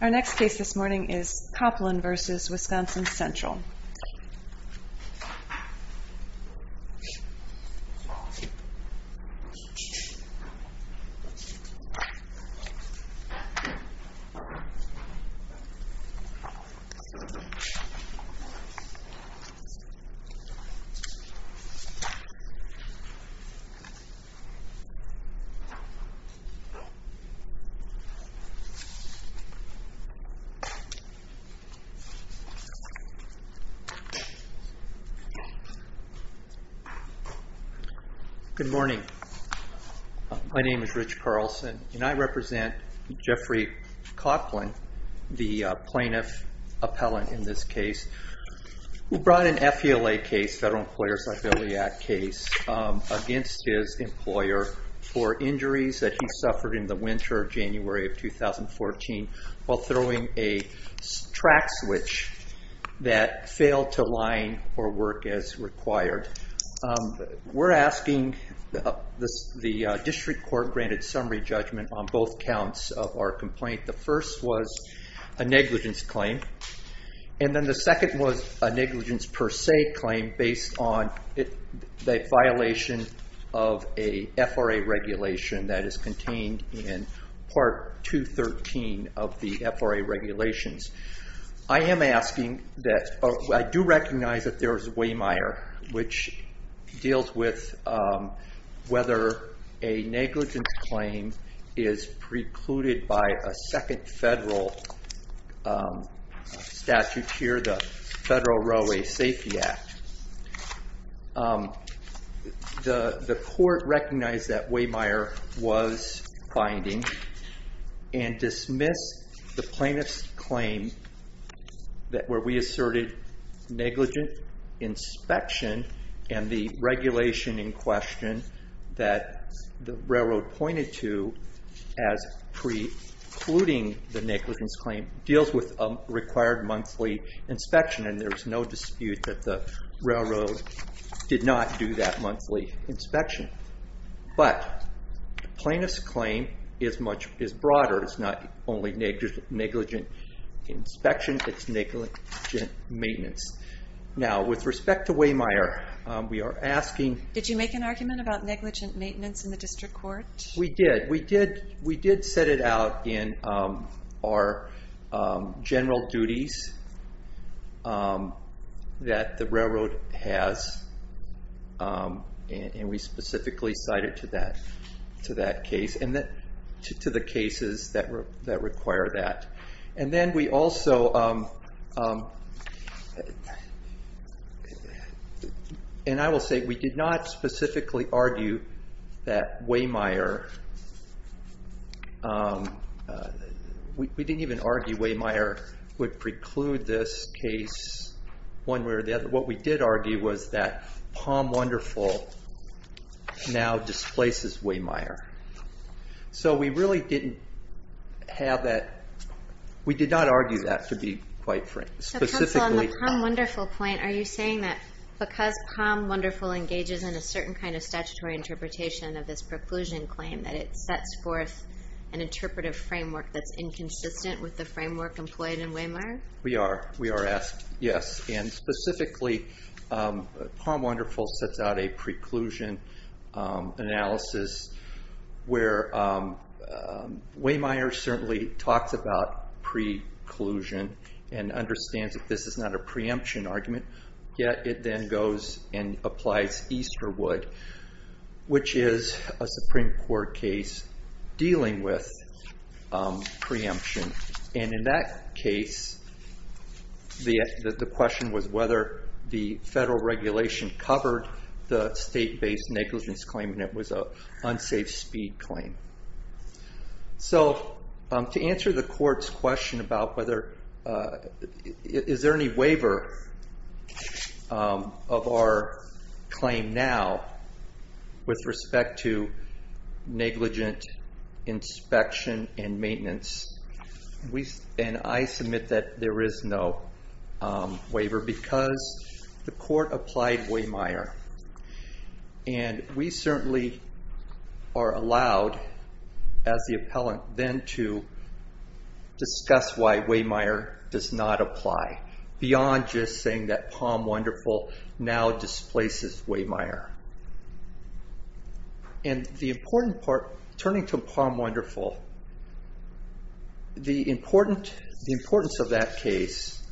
Our next case this morning is Koplin v. Wisconsin Central. Good morning. My name is Rich Carlson and I represent Jeffrey Koplin, the plaintiff appellant in this case. We brought an FELA case, Federal Employer's Affiliate case, against his employer for injuries that he suffered in the winter of January of 2014 while throwing a track switch that failed to line or work as required. We're asking the district court to grant a summary judgment on both counts of our complaint. The first was a negligence claim and then the second was a negligence per se claim based on the violation of a FRA regulation that is contained in Part 213 of the FRA regulations. I do recognize that there is precluded by a second federal statute here, the Federal Railway Safety Act. The court recognized that Waymire was binding and dismissed the plaintiff's claim where we asserted negligent inspection and the regulation in question that the railroad pointed to as precluding the negligence claim deals with a required monthly inspection and there is no dispute that the railroad did not do that monthly inspection. But the plaintiff's claim is broader. It's not only negligent inspection, it's negligent maintenance. Now with respect to Waymire, we are asking- Did you make an argument about negligent maintenance in the district court? We did. We did set it out in our general duties that the railroad has and we specifically cited to that case and to the cases that require that. And then we also- and I will say we did not specifically argue that Waymire- we didn't even argue Waymire would preclude this case one way or the other. What we did argue was that Palm Wonderful now displaces Waymire. So we really didn't have that- we did not argue that to be quite specific. So counsel, on the Palm Wonderful point, are you saying that because Palm Wonderful engages in a certain kind of statutory interpretation of this preclusion claim that it sets forth an interpretive framework that's inconsistent with the framework employed in Waymire? We are. We are asked, yes. And specifically, Palm Wonderful sets out a preclusion analysis where Waymire certainly talks about preclusion and understands that this is not a preemption argument, yet it then goes and applies Easterwood, which is a Supreme Court case dealing with the question was whether the federal regulation covered the state-based negligence claim and it was an unsafe speed claim. So to answer the court's question about whether- is there any waiver of our claim now with respect to negligent inspection and maintenance? And I submit that there is no waiver because the court applied Waymire. And we certainly are allowed, as the appellant, then to discuss why Waymire does not apply, beyond just saying that Palm Wonderful now displaces Waymire. And the important part, turning to Palm Wonderful, the importance of that case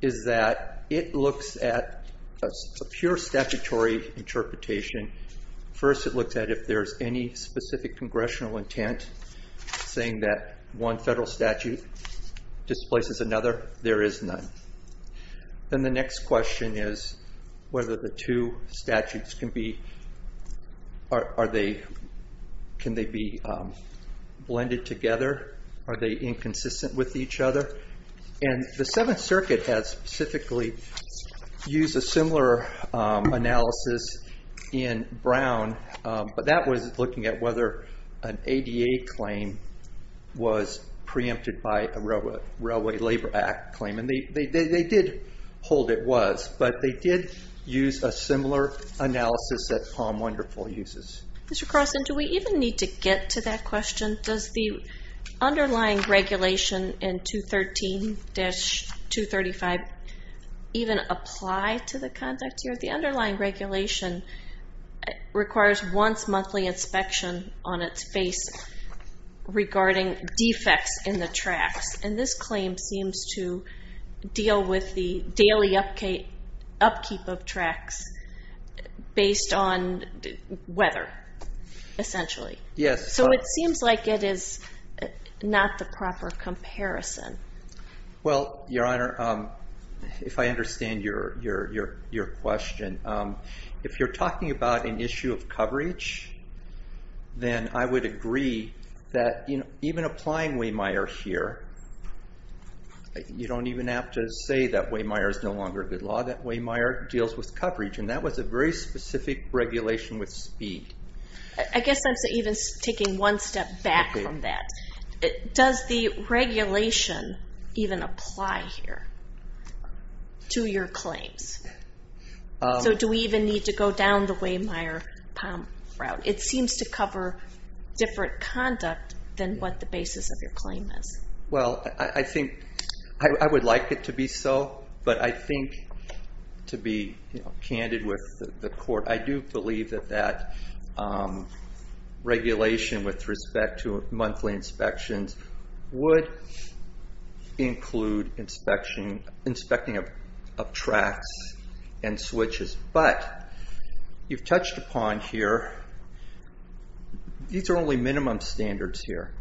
is that it looks at a pure statutory interpretation. First, it looks at if there's any specific congressional intent, saying that one federal statute displaces another, there is none. Then the next question is whether the two statutes can be- can they be blended together? Are they inconsistent with each other? And the Seventh Circuit has specifically used a similar analysis in Brown, but that was looking at whether an ADA claim was preempted by a Railway Labor Act claim. And they did hold it was, but they did use a similar analysis that Palm Wonderful uses. Mr. Carlson, do we even need to get to that question? Does the underlying regulation in 213-235 even apply to the context here? The underlying regulation requires once monthly inspection on its face regarding defects in the tracks. And this claim seems to deal with the daily upkeep of tracks based on weather, essentially. Yes. So it seems like it is not the proper comparison. Well, Your Honor, if I understand your question, if you're talking about an issue of coverage, then I would agree that, even applying Wehmeyer here, you don't even have to say that Wehmeyer is no longer a good law, that Wehmeyer deals with coverage. And that was a very specific regulation with speed. I guess I'm even taking one step back from that. Does the regulation even apply here to your claims? So do we even need to go down the Wehmeyer-Palm route? It seems to cover different conduct than what the basis of your claim is. Well, I think I would like it to be so, but I think to be candid with the court, I do believe that that regulation with respect to monthly inspections would include inspecting of tracks and switches. But you've touched upon here, these are only minimum standards here.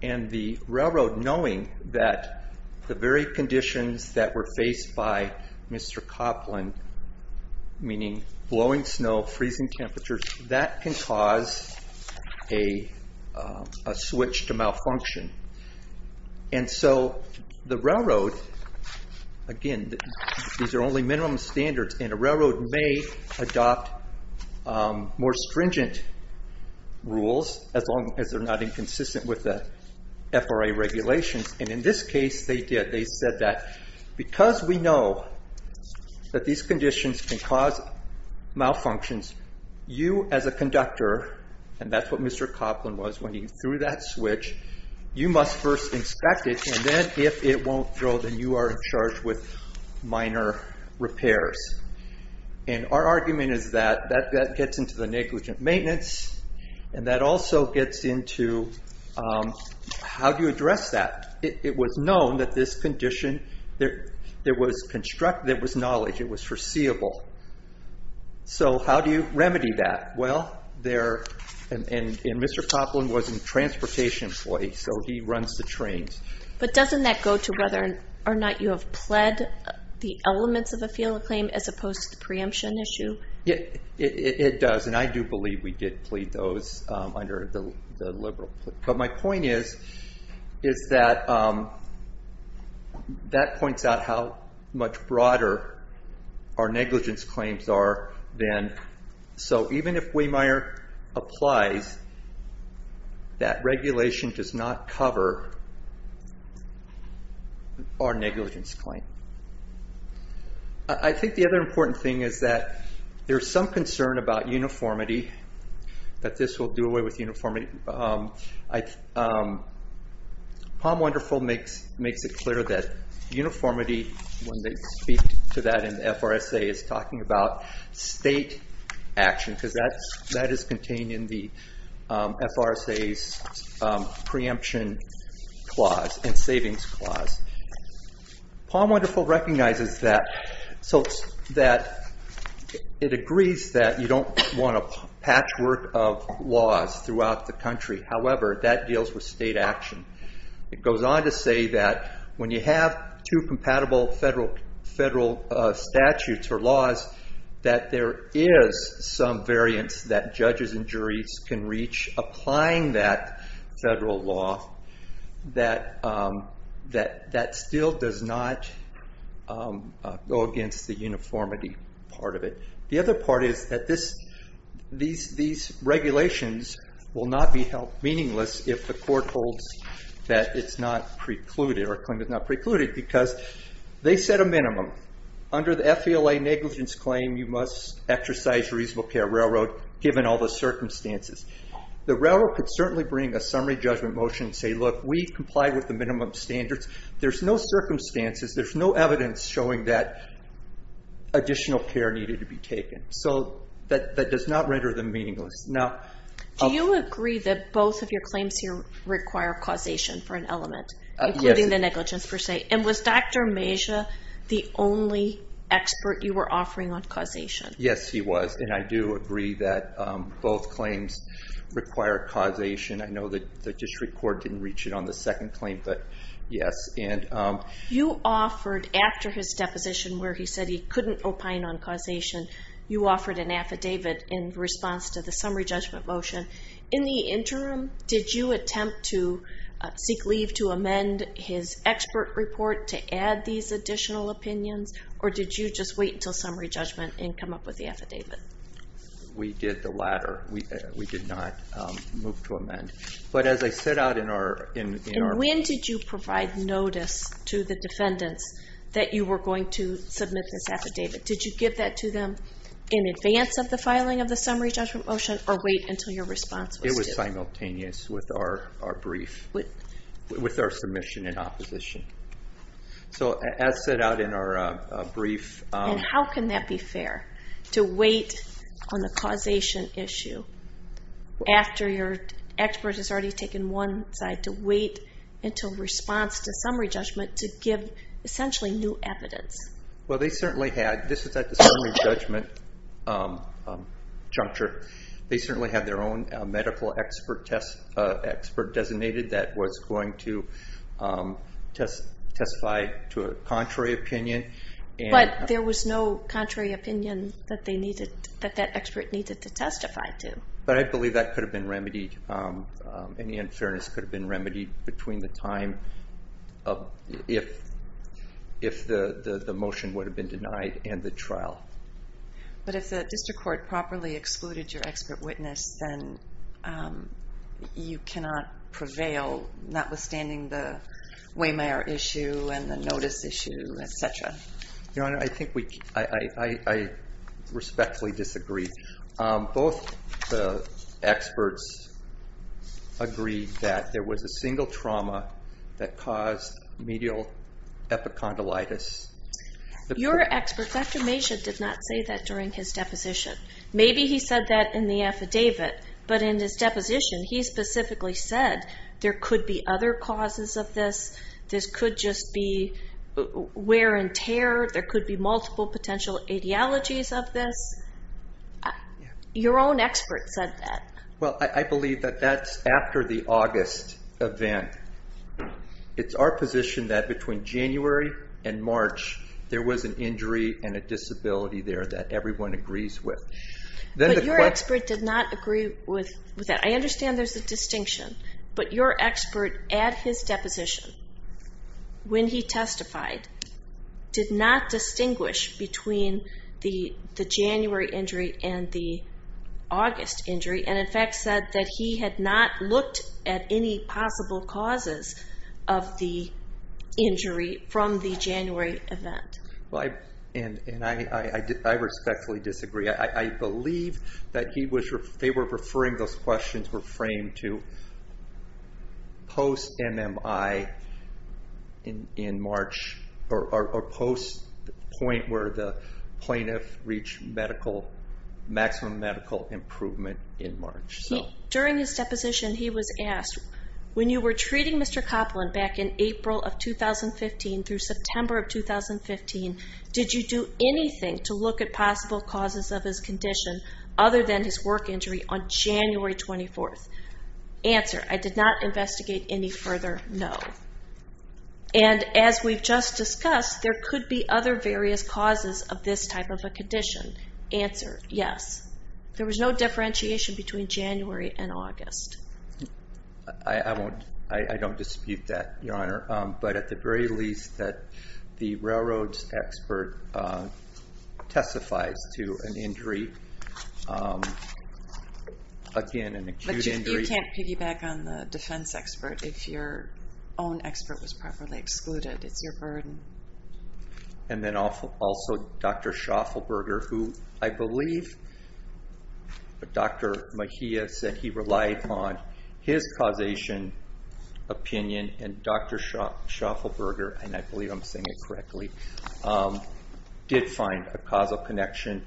And the railroad, knowing that the very conditions that were faced by Mr. Copland, meaning blowing snow, freezing temperatures, that can cause a switch to malfunction. And so the railroad, again, these are only minimum standards. And a railroad may adopt more stringent rules, as long as they're not inconsistent with the FRA regulations. And in this case, they did. They said that because we know that these conditions can cause malfunctions, you as a conductor, and that's what Mr. Copland was, when he threw that switch, you must first inspect it. And then if it won't throw, then you are in charge with minor repairs. And our argument is that that gets into the negligent maintenance, and that also gets into how do you address that? It was known that this condition, there was knowledge, it was foreseeable. So how do you remedy that? Well, and Mr. Copland was a transportation employee, so he runs the trains. But doesn't that go to whether or not you have pled the elements of a field claim, as opposed to the preemption issue? It does, and I do believe we did plead those under the liberal plea. But my point is, is that that points out how much broader our negligence claims are than, so even if Wehmeyer applies, that regulation does not cover our negligence claim. I think the other important is that there's some concern about uniformity, that this will do away with uniformity. Palm Wonderful makes it clear that uniformity, when they speak to that in the FRSA, is talking about state action, because that is contained in the FRSA's preemption clause, and savings clause. Palm Wonderful recognizes that, so that it agrees that you don't want a patchwork of laws throughout the country. However, that deals with state action. It goes on to say that when you have two compatible federal statutes or laws, that there is some variance that judges and juries can reach applying that federal law, that still does not go against the uniformity part of it. The other part is that these regulations will not be held meaningless if the court holds that it's not precluded, or claims it's not precluded, because they set a minimum. Under the FVLA negligence claim, you must exercise reasonable care of railroad, given all the circumstances. The railroad could certainly bring a summary judgment motion, and say, look, we've complied with the minimum standards. There's no circumstances, there's no evidence showing that additional care needed to be taken. That does not render them meaningless. Now- Jody Do you agree that both of your claims here require causation for an element, including the negligence per se? Was Dr. Mejia the only expert you were offering on causation? Yes, he was. I do agree that both claims require causation. I know that the district court didn't reach it on the second claim, but yes. You offered, after his deposition where he said he couldn't opine on causation, you offered an affidavit in response to the summary judgment motion. In the interim, did you attempt to seek leave to amend his expert report to add these additional opinions, or did you just wait until summary judgment and come up with the affidavit? We did the latter. We did not move to amend. But as I set out in our- And when did you provide notice to the defendants that you were going to submit this affidavit? Did you give that to them in advance of the filing of the summary judgment motion, or wait until your response was due? It was simultaneous with our brief, with our submission in opposition. So, as set out in our brief- And how can that be fair, to wait on the causation issue after your expert has already taken one side, to wait until response to summary judgment to give essentially new evidence? Well, they certainly had- This is at the summary judgment juncture. They certainly had their own medical expert designated that was going to testify to a contrary opinion. But there was no contrary opinion that that expert needed to testify to. But I believe that could have been remedied. Any unfairness could have been remedied between the time if the motion would have been denied and the trial. But if the district court properly excluded your expert witness, then you cannot prevail, notwithstanding the Waymare issue and the notice issue, et cetera. Your Honor, I respectfully disagree. Both the experts agreed that there was a single trauma that caused medial epicondylitis. Your expert, Dr. Maysha, did not say that during his deposition. Maybe he said that in the affidavit. But in his deposition, he specifically said there could be other causes of this. This could just be wear and tear. There could be multiple potential ideologies of this. Your own expert said that. Well, I believe that that's after the August event. It's our position that between January and March, there was an injury and a disability there that everyone agrees with. But your expert did not agree with that. I understand there's a distinction. But your expert at his deposition, when he testified, did not distinguish between the January injury and the August injury, and in fact said that he had not looked at any possible causes of the injury from the January event. And I respectfully disagree. I believe that they were referring those questions were framed to post-MMI in March, or post the point where the plaintiff reached maximum medical improvement in March. During his deposition, he was asked, when you were treating Mr. Copeland back in April of 2015 through September of 2015, did you do anything to look at possible causes of his condition other than his work injury on January 24th? Answer, I did not investigate any further, no. And as we've just discussed, there could be other various causes of this type of a condition. Answer, yes. There was no differentiation between January and August. I don't dispute that, Your Honor. But at the very least, that the railroads expert testifies to an injury, again, an acute injury. But you can't piggyback on the defense expert if your own expert was properly excluded. It's your burden. And then also Dr. Schauffelberger, who I believe Dr. Mejia said he relied on for the his causation opinion, and Dr. Schauffelberger, and I believe I'm saying it correctly, did find a causal connection.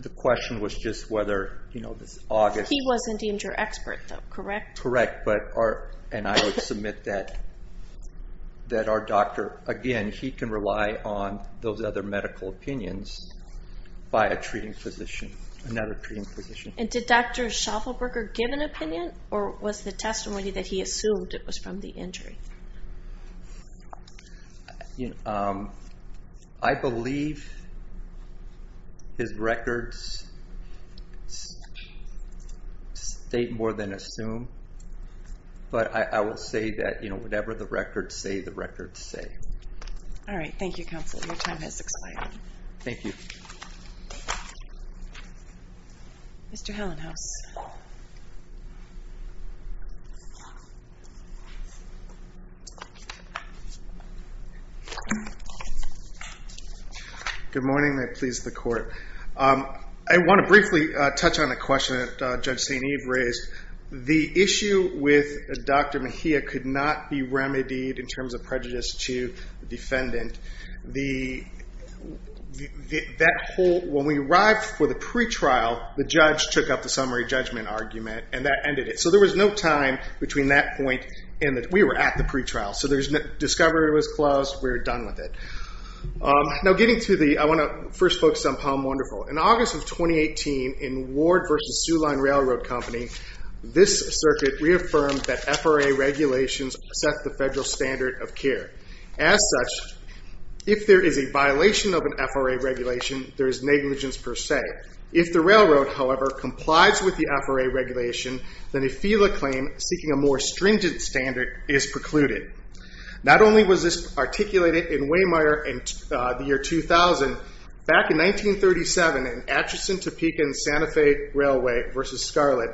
The question was just whether this August... He wasn't deemed your expert, though, correct? Correct. And I would submit that our doctor, again, he can rely on those other medical opinions by a treating physician, another treating physician. And did Dr. Schauffelberger give an opinion, or was the testimony that he assumed it was from the injury? I believe his records state more than assume, but I will say that whatever the records say, the records say. All right. Thank you, Counselor. Your time has expired. Thank you, Mr. Hellenhaus. Good morning. May it please the Court. I want to briefly touch on a question that Judge St. Eve raised. The issue with Dr. Mejia could not be remedied in terms of prejudice to the judgment argument, and that ended it. So there was no time between that point and the... We were at the pretrial, so discovery was closed. We're done with it. Now getting to the... I want to first focus on Palm Wonderful. In August of 2018, in Ward versus Sulon Railroad Company, this circuit reaffirmed that FRA regulations set the federal standard of care. As such, if there is a violation of an FRA regulation, there is negligence per se. If the railroad, however, complies with the FRA regulation, then a FELA claim seeking a more stringent standard is precluded. Not only was this articulated in Waymire in the year 2000, back in 1937 in Atchison-Topeka and Santa Fe Railway versus Scarlet,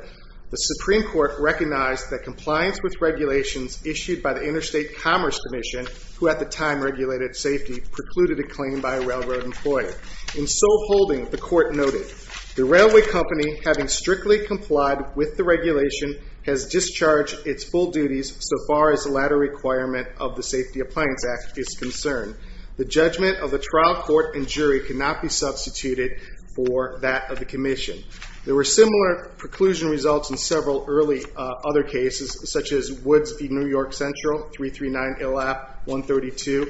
the Supreme Court recognized that compliance with regulations issued by the Interstate Commerce Commission, who at the time regulated safety, precluded a claim by a railroad employer. In sole holding, the court noted, the railway company, having strictly complied with the regulation, has discharged its full duties so far as the latter requirement of the Safety Appliance Act is concerned. The judgment of the trial court and jury cannot be substituted for that of the commission. There were similar preclusion results in several early other cases, such as Woods v. New York West Railway, 346-0190,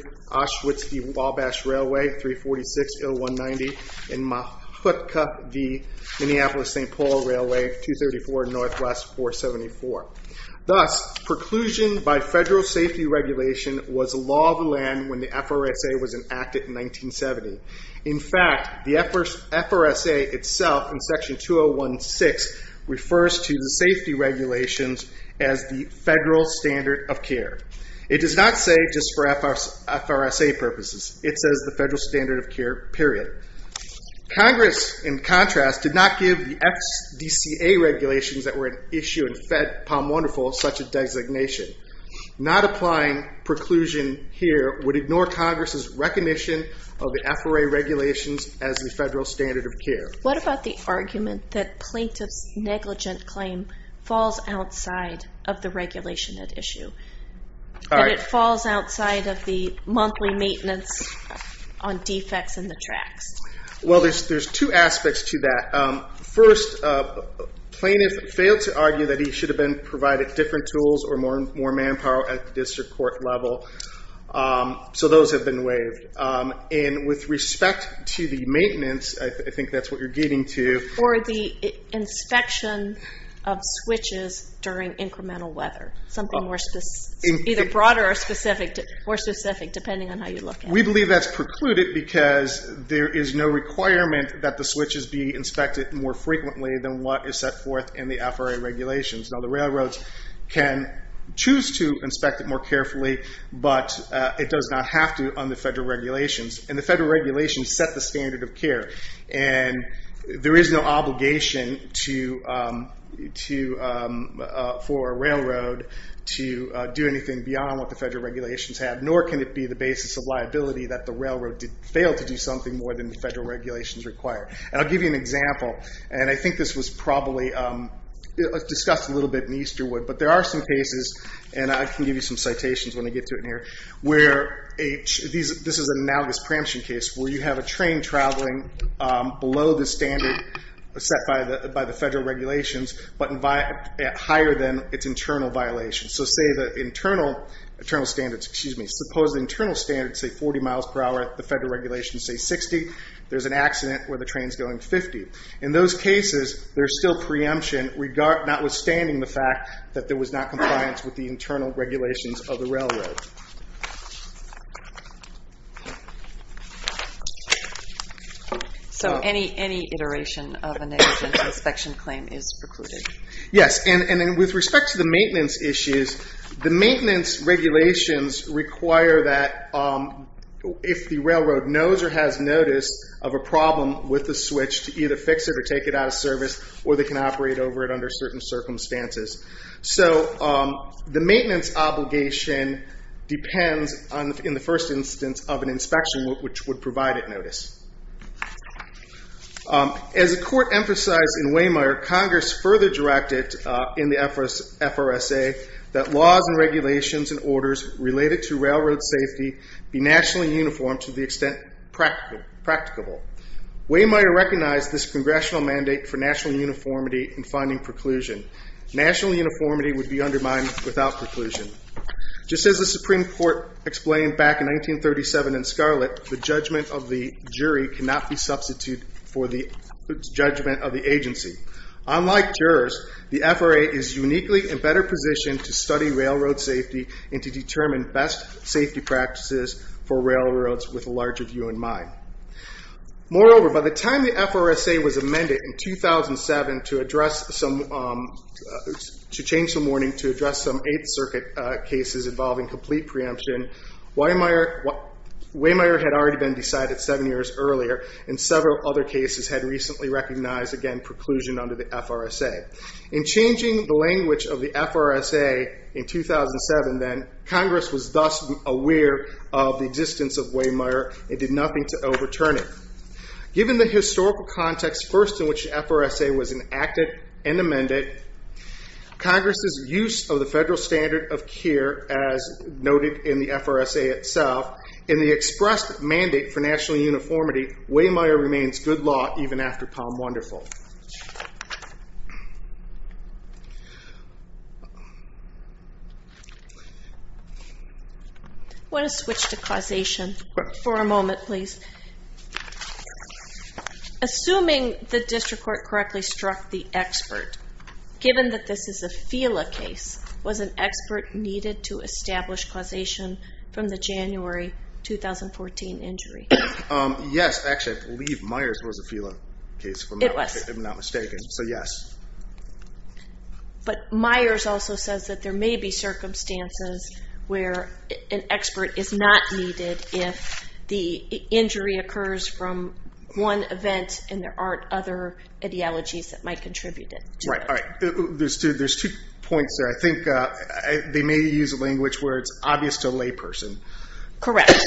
and Mahutka v. Minneapolis-St. Paul Railway, 234-NW-474. Thus, preclusion by federal safety regulation was law of the land when the FRSA was enacted in 1970. In fact, the FRSA itself, in section 2016, refers to the safety regulations as the federal standard of care. It does not say just for FRSA purposes. It says the federal standard of care, period. Congress, in contrast, did not give the FDCA regulations that were at issue in Fed Palm Wonderful such a designation. Not applying preclusion here would ignore Congress' recognition of the FRA regulations as the federal standard of care. What about the argument that plaintiff's negligent claim falls outside of the regulation at issue? That it falls outside of the monthly maintenance on defects in the tracks? There's two aspects to that. First, plaintiff failed to argue that he should have been provided different tools or more manpower at the district court level. Those have been waived. With respect to the maintenance, I think that's what you're getting to. Or the inspection of switches during incremental weather, something either broader or specific, depending on how you look at it. We believe that's precluded because there is no requirement that the switches be inspected more frequently than what is set forth in the FRA regulations. The railroads can choose to inspect it more carefully, but it does not have to on the federal regulations. The re is no obligation for a railroad to do anything beyond what the federal regulations have, nor can it be the basis of liability that the railroad failed to do something more than the federal regulations require. I'll give you an example. I think this was probably discussed a little bit in Easterwood, but there are some cases, and I can give you some citations when I get to it in here. This is an analogous preemption case where you have a train traveling below the standard set by the federal regulations, but higher than its internal violations. Suppose the internal standards say 40 miles per hour, the federal regulations say 60. There's an accident where the train's going 50. In those cases, there's still preemption, notwithstanding the fact that there was not compliance with the internal regulations of the railroad. Any iteration of a negligence inspection claim is precluded. Yes. With respect to the maintenance issues, the maintenance regulations require that if the railroad knows or has notice of a problem with the switch to either fix it or take it out of service, or they can operate over it under certain circumstances. The maintenance obligation depends, in the first instance, on an inspection which would provide it notice. As the court emphasized in Wehmeyer, Congress further directed in the FRSA that laws and regulations and orders related to railroad safety be nationally uniformed to the extent practicable. Wehmeyer recognized this congressional mandate for national uniformity in finding preclusion. National uniformity would be undermined without preclusion. Just as the Supreme Court explained back in 1937 in Scarlet, the judgment of the jury cannot be substituted for the judgment of the agency. Unlike jurors, the FRA is uniquely in better position to study railroad safety and to determine best safety practices for railroads with a larger view in mind. Moreover, by the time the FRSA was amended in 2007 to change some warning to address some Eighth Circuit cases involving complete preemption, Wehmeyer had already been decided seven years earlier, and several other cases had recently recognized, again, preclusion under the FRSA. In changing the language of the FRSA in 2007 then, Congress was thus aware of the existence of Wehmeyer and did nothing to overturn it. Given the historical context first in which the FRSA was enacted and amended, Congress' use of the federal standard of care as noted in the FRSA itself, in the expressed mandate for national uniformity, Wehmeyer remains good law even after Palm Wonderful. I want to switch to causation for a moment, please. Assuming the district court correctly struck the expert, given that this is a FELA case, was an expert needed to establish causation from the January 2014 injury? Yes, actually, I believe Myers was a FELA case, if I'm not mistaken, so yes. But Myers also says that there may be circumstances where an expert is not needed if the injury occurs from one event and there aren't other ideologies that might contribute to it. Right, all right. There's two points there. I think they may use a language where it's obvious to a layperson. Correct.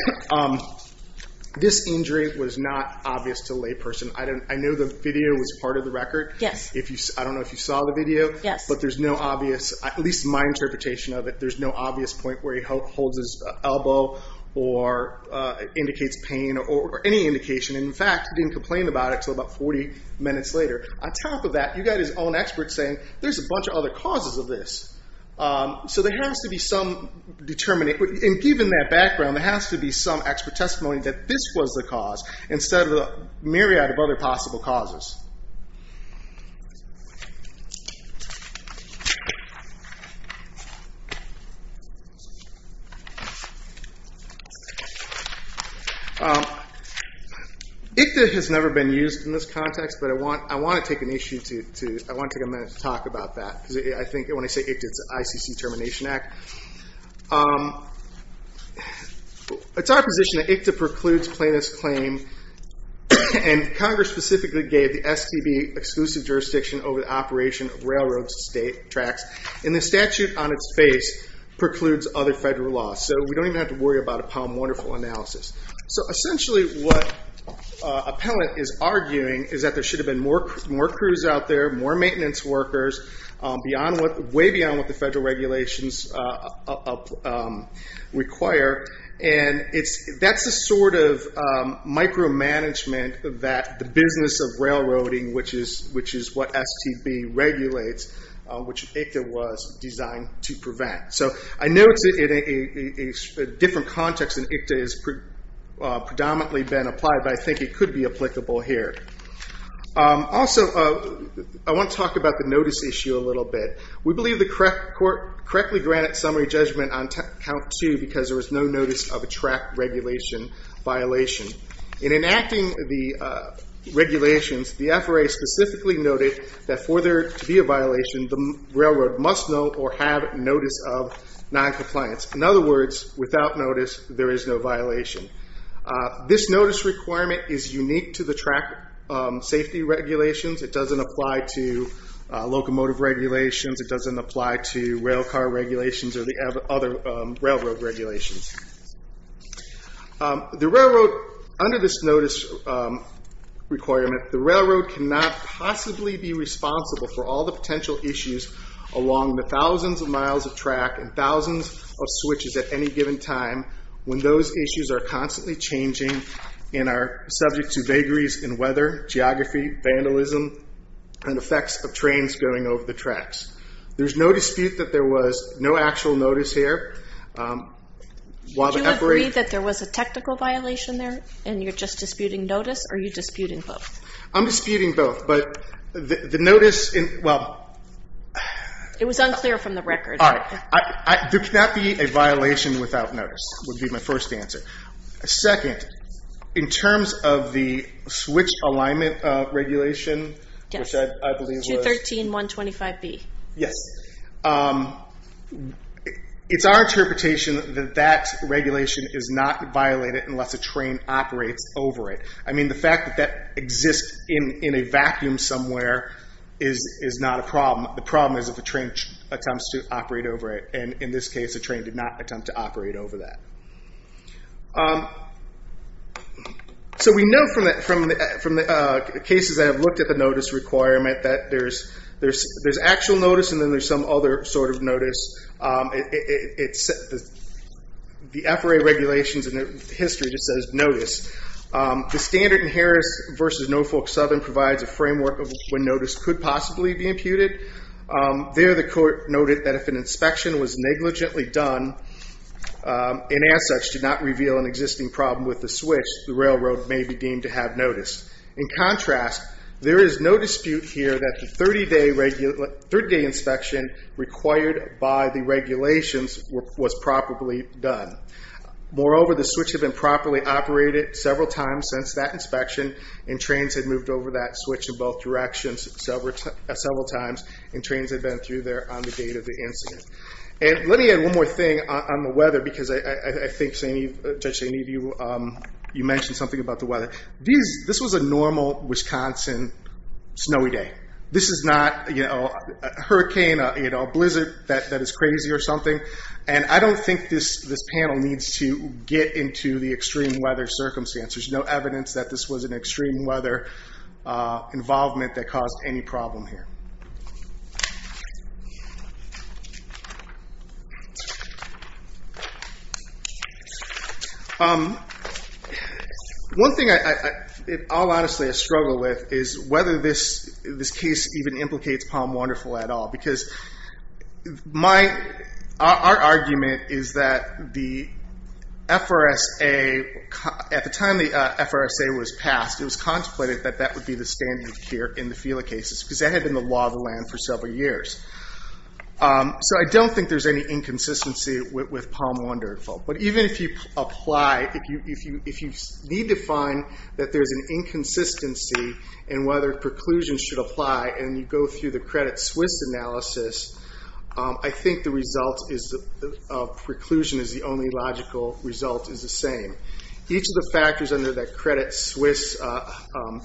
This injury was not obvious to a layperson. I know the video was part of the record. Yes. I don't know if you saw the video. Yes. But there's no obvious, at least my interpretation of it, there's no obvious point where he holds his elbow or indicates pain or any indication. In fact, he didn't complain about it until about 40 minutes later. On top of that, you got his own expert saying, there's a bunch of other causes of this. So there has to be some determinant, and given that background, there has to be some expert testimony that this was the cause instead of a myriad of other possible causes. ICDA has never been used in this context, but I want to take a minute to talk about that. When I say ICDA, it's the ICC Termination Act. It's our position that ICDA precludes plaintiff's claim, and Congress specifically gave the STB exclusive jurisdiction over the operation of railroad tracks, and the statute on its face precludes other federal laws. We don't even have to worry about a POM wonderful analysis. Essentially, what appellant is arguing is that there should have been more crews out there, more maintenance workers, way beyond what the federal regulations require. That's the sort of micromanagement that the business of railroading, which is what STB regulates, which ICDA was designed to prevent. I know it's in a different context than ICDA has predominantly been applied, but I think it could be applicable here. Also, I want to talk about the notice issue a little bit. We believe the court correctly granted summary judgment on count two because there was no notice of a track regulation violation. In enacting the regulations, the FRA specifically noted that for there to be a violation, the railroad must know or have notice of noncompliance. In other words, without notice, there is no violation. This notice requirement is unique to the track safety regulations. It doesn't apply to locomotive regulations. It doesn't apply to rail car regulations or the other railroad regulations. Under this notice requirement, the railroad cannot possibly be responsible for all the switches at any given time when those issues are constantly changing and are subject to vagaries in weather, geography, vandalism, and effects of trains going over the tracks. There's no dispute that there was no actual notice here. Do you agree that there was a technical violation there and you're just disputing notice or are you disputing both? I'm disputing both. It was unclear from the record. There cannot be a violation without notice, would be my first answer. Second, in terms of the switch alignment regulation, which I believe was... Yes, 213.125B. Yes. It's our interpretation that that regulation is not violated unless a train operates over it. I mean, the fact that that exists in a vacuum somewhere is not a problem. The problem is if a train attempts to operate over it. In this case, a train did not attempt to operate over that. We know from the cases that have looked at the notice requirement that there's actual notice and then there's some other sort of notice. The FRA regulations and the history just says notice. The standard in Harris versus Norfolk Southern provides a framework of when notice could possibly be imputed. There the court noted that if an inspection was negligently done and as such did not reveal an existing problem with the switch, the railroad may be deemed to have notice. In contrast, there is no dispute here that the 30-day inspection required by the regulations was properly done. Moreover, the switch had been properly operated several times since that inspection and trains had moved over that switch in both directions several times and trains had been through there on the date of the incident. And let me add one more thing on the weather because I think, Judge St. Eve, you mentioned something about the weather. This was a normal Wisconsin snowy day. This is not a hurricane, a blizzard that is crazy or something. And I don't think this panel needs to get into the extreme weather circumstances. There's no evidence that this was an extreme weather involvement that caused any problem here. One thing I'll honestly struggle with is whether this case even implicates Palm Wonderful at all because our argument is that the FRSA, at the time the FRSA was passed, it was contemplated that that would be the standard here in the Fela cases because that had been the law of the land for several years. So I don't think there's any inconsistency with Palm Wonderful. But even if you apply, if you need to find that there's an inconsistency in whether preclusion should apply and you go through the Credit Suisse analysis, I think the result of preclusion is the only logical result is the same. Each of the factors under that Credit Suisse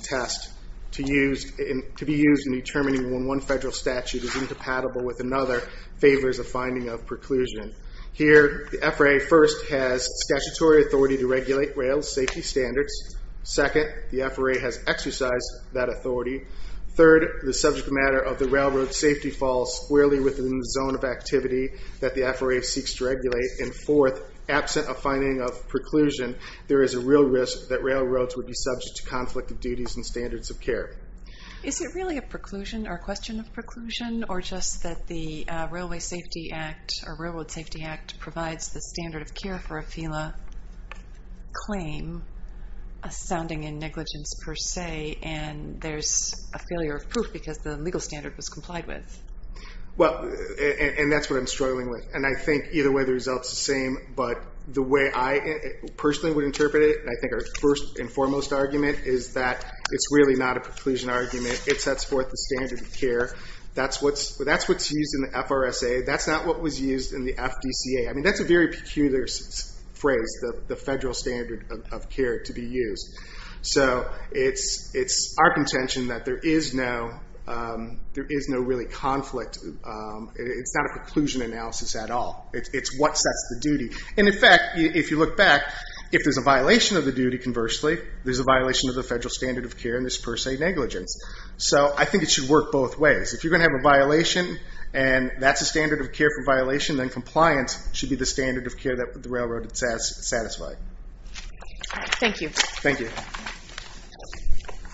test to be used in determining when one federal statute is incompatible with another favors a finding of preclusion. Here, the FRA first has statutory authority to regulate rail safety standards. Second, the FRA has exercised that authority. Third, the subject matter of the railroad safety falls squarely within the zone of activity that the FRA seeks to regulate. And fourth, absent a finding of preclusion, there is a real risk that railroads would be subject to conflict of duties and standards of care. Is it really a preclusion or a question of preclusion or just that the Railway Safety Act or Railroad Safety Act provides the standard of care for a FELA claim, sounding in negligence per se, and there's a failure of proof because the legal standard was complied with? Well, and that's what I'm struggling with. And I think either way, the result's the same. But the way I personally would interpret it, I think our first and foremost argument is that it's really not a preclusion argument. It sets forth the standard of care. That's what's used in the FRSA. That's not what was used in the FDCA. I mean, that's a very peculiar phrase, the federal standard of care to be used. So it's our contention that there is no really conflict. It's not a preclusion analysis at all. It's what sets the duty. And in fact, if you look back, if there's a violation of the duty, conversely, there's a violation of the federal standard of care, and there's per se negligence. So I think it should work both ways. If you're going to have a violation, and that's the standard of care for violation, then compliance should be the standard of care that the railroad has satisfied. Thank you. Thank you.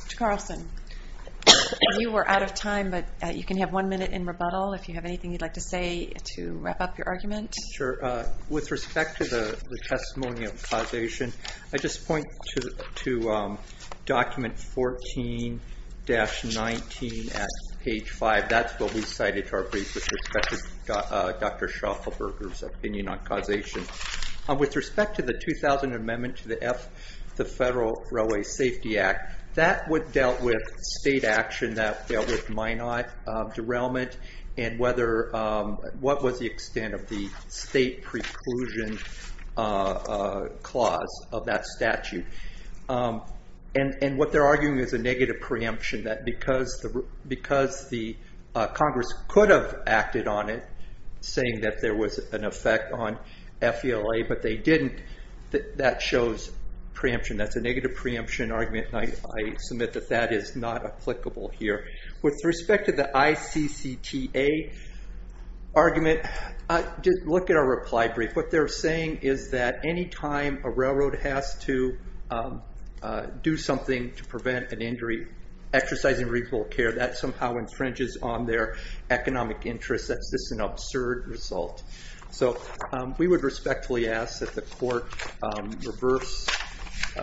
Mr. Carlson, you were out of time, but you can have one minute in rebuttal if you have anything you'd like to say to wrap up your argument. Sure. With respect to the testimony of causation, I just point to document 14-19 at page 5. That's what we cited to our brief with respect to Dr. Schaufelberger's opinion on causation. With respect to the 2000 Amendment to the Federal Railway Safety Act, that dealt with state action, that dealt with Minot derailment, and what was the extent of the state preclusion clause of that statute. And what they're arguing is a negative preemption, that because the Congress could have acted on it, saying that there was an effect on FELA, but they didn't, that shows preemption. That's a negative preemption argument, and I submit that that is not applicable here. With respect to the ICCTA argument, look at our reply brief. What they're saying is that any time a railroad has to do something to prevent an injury, exercising recall care, that somehow infringes on their economic interest. That's just an absurd result. So we would respectfully ask that the court reverse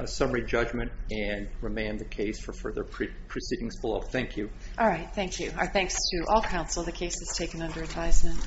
summary judgment and remand the case for further proceedings below. Thank you. All right, thank you. Our thanks to all counsel. The case is taken under advisement.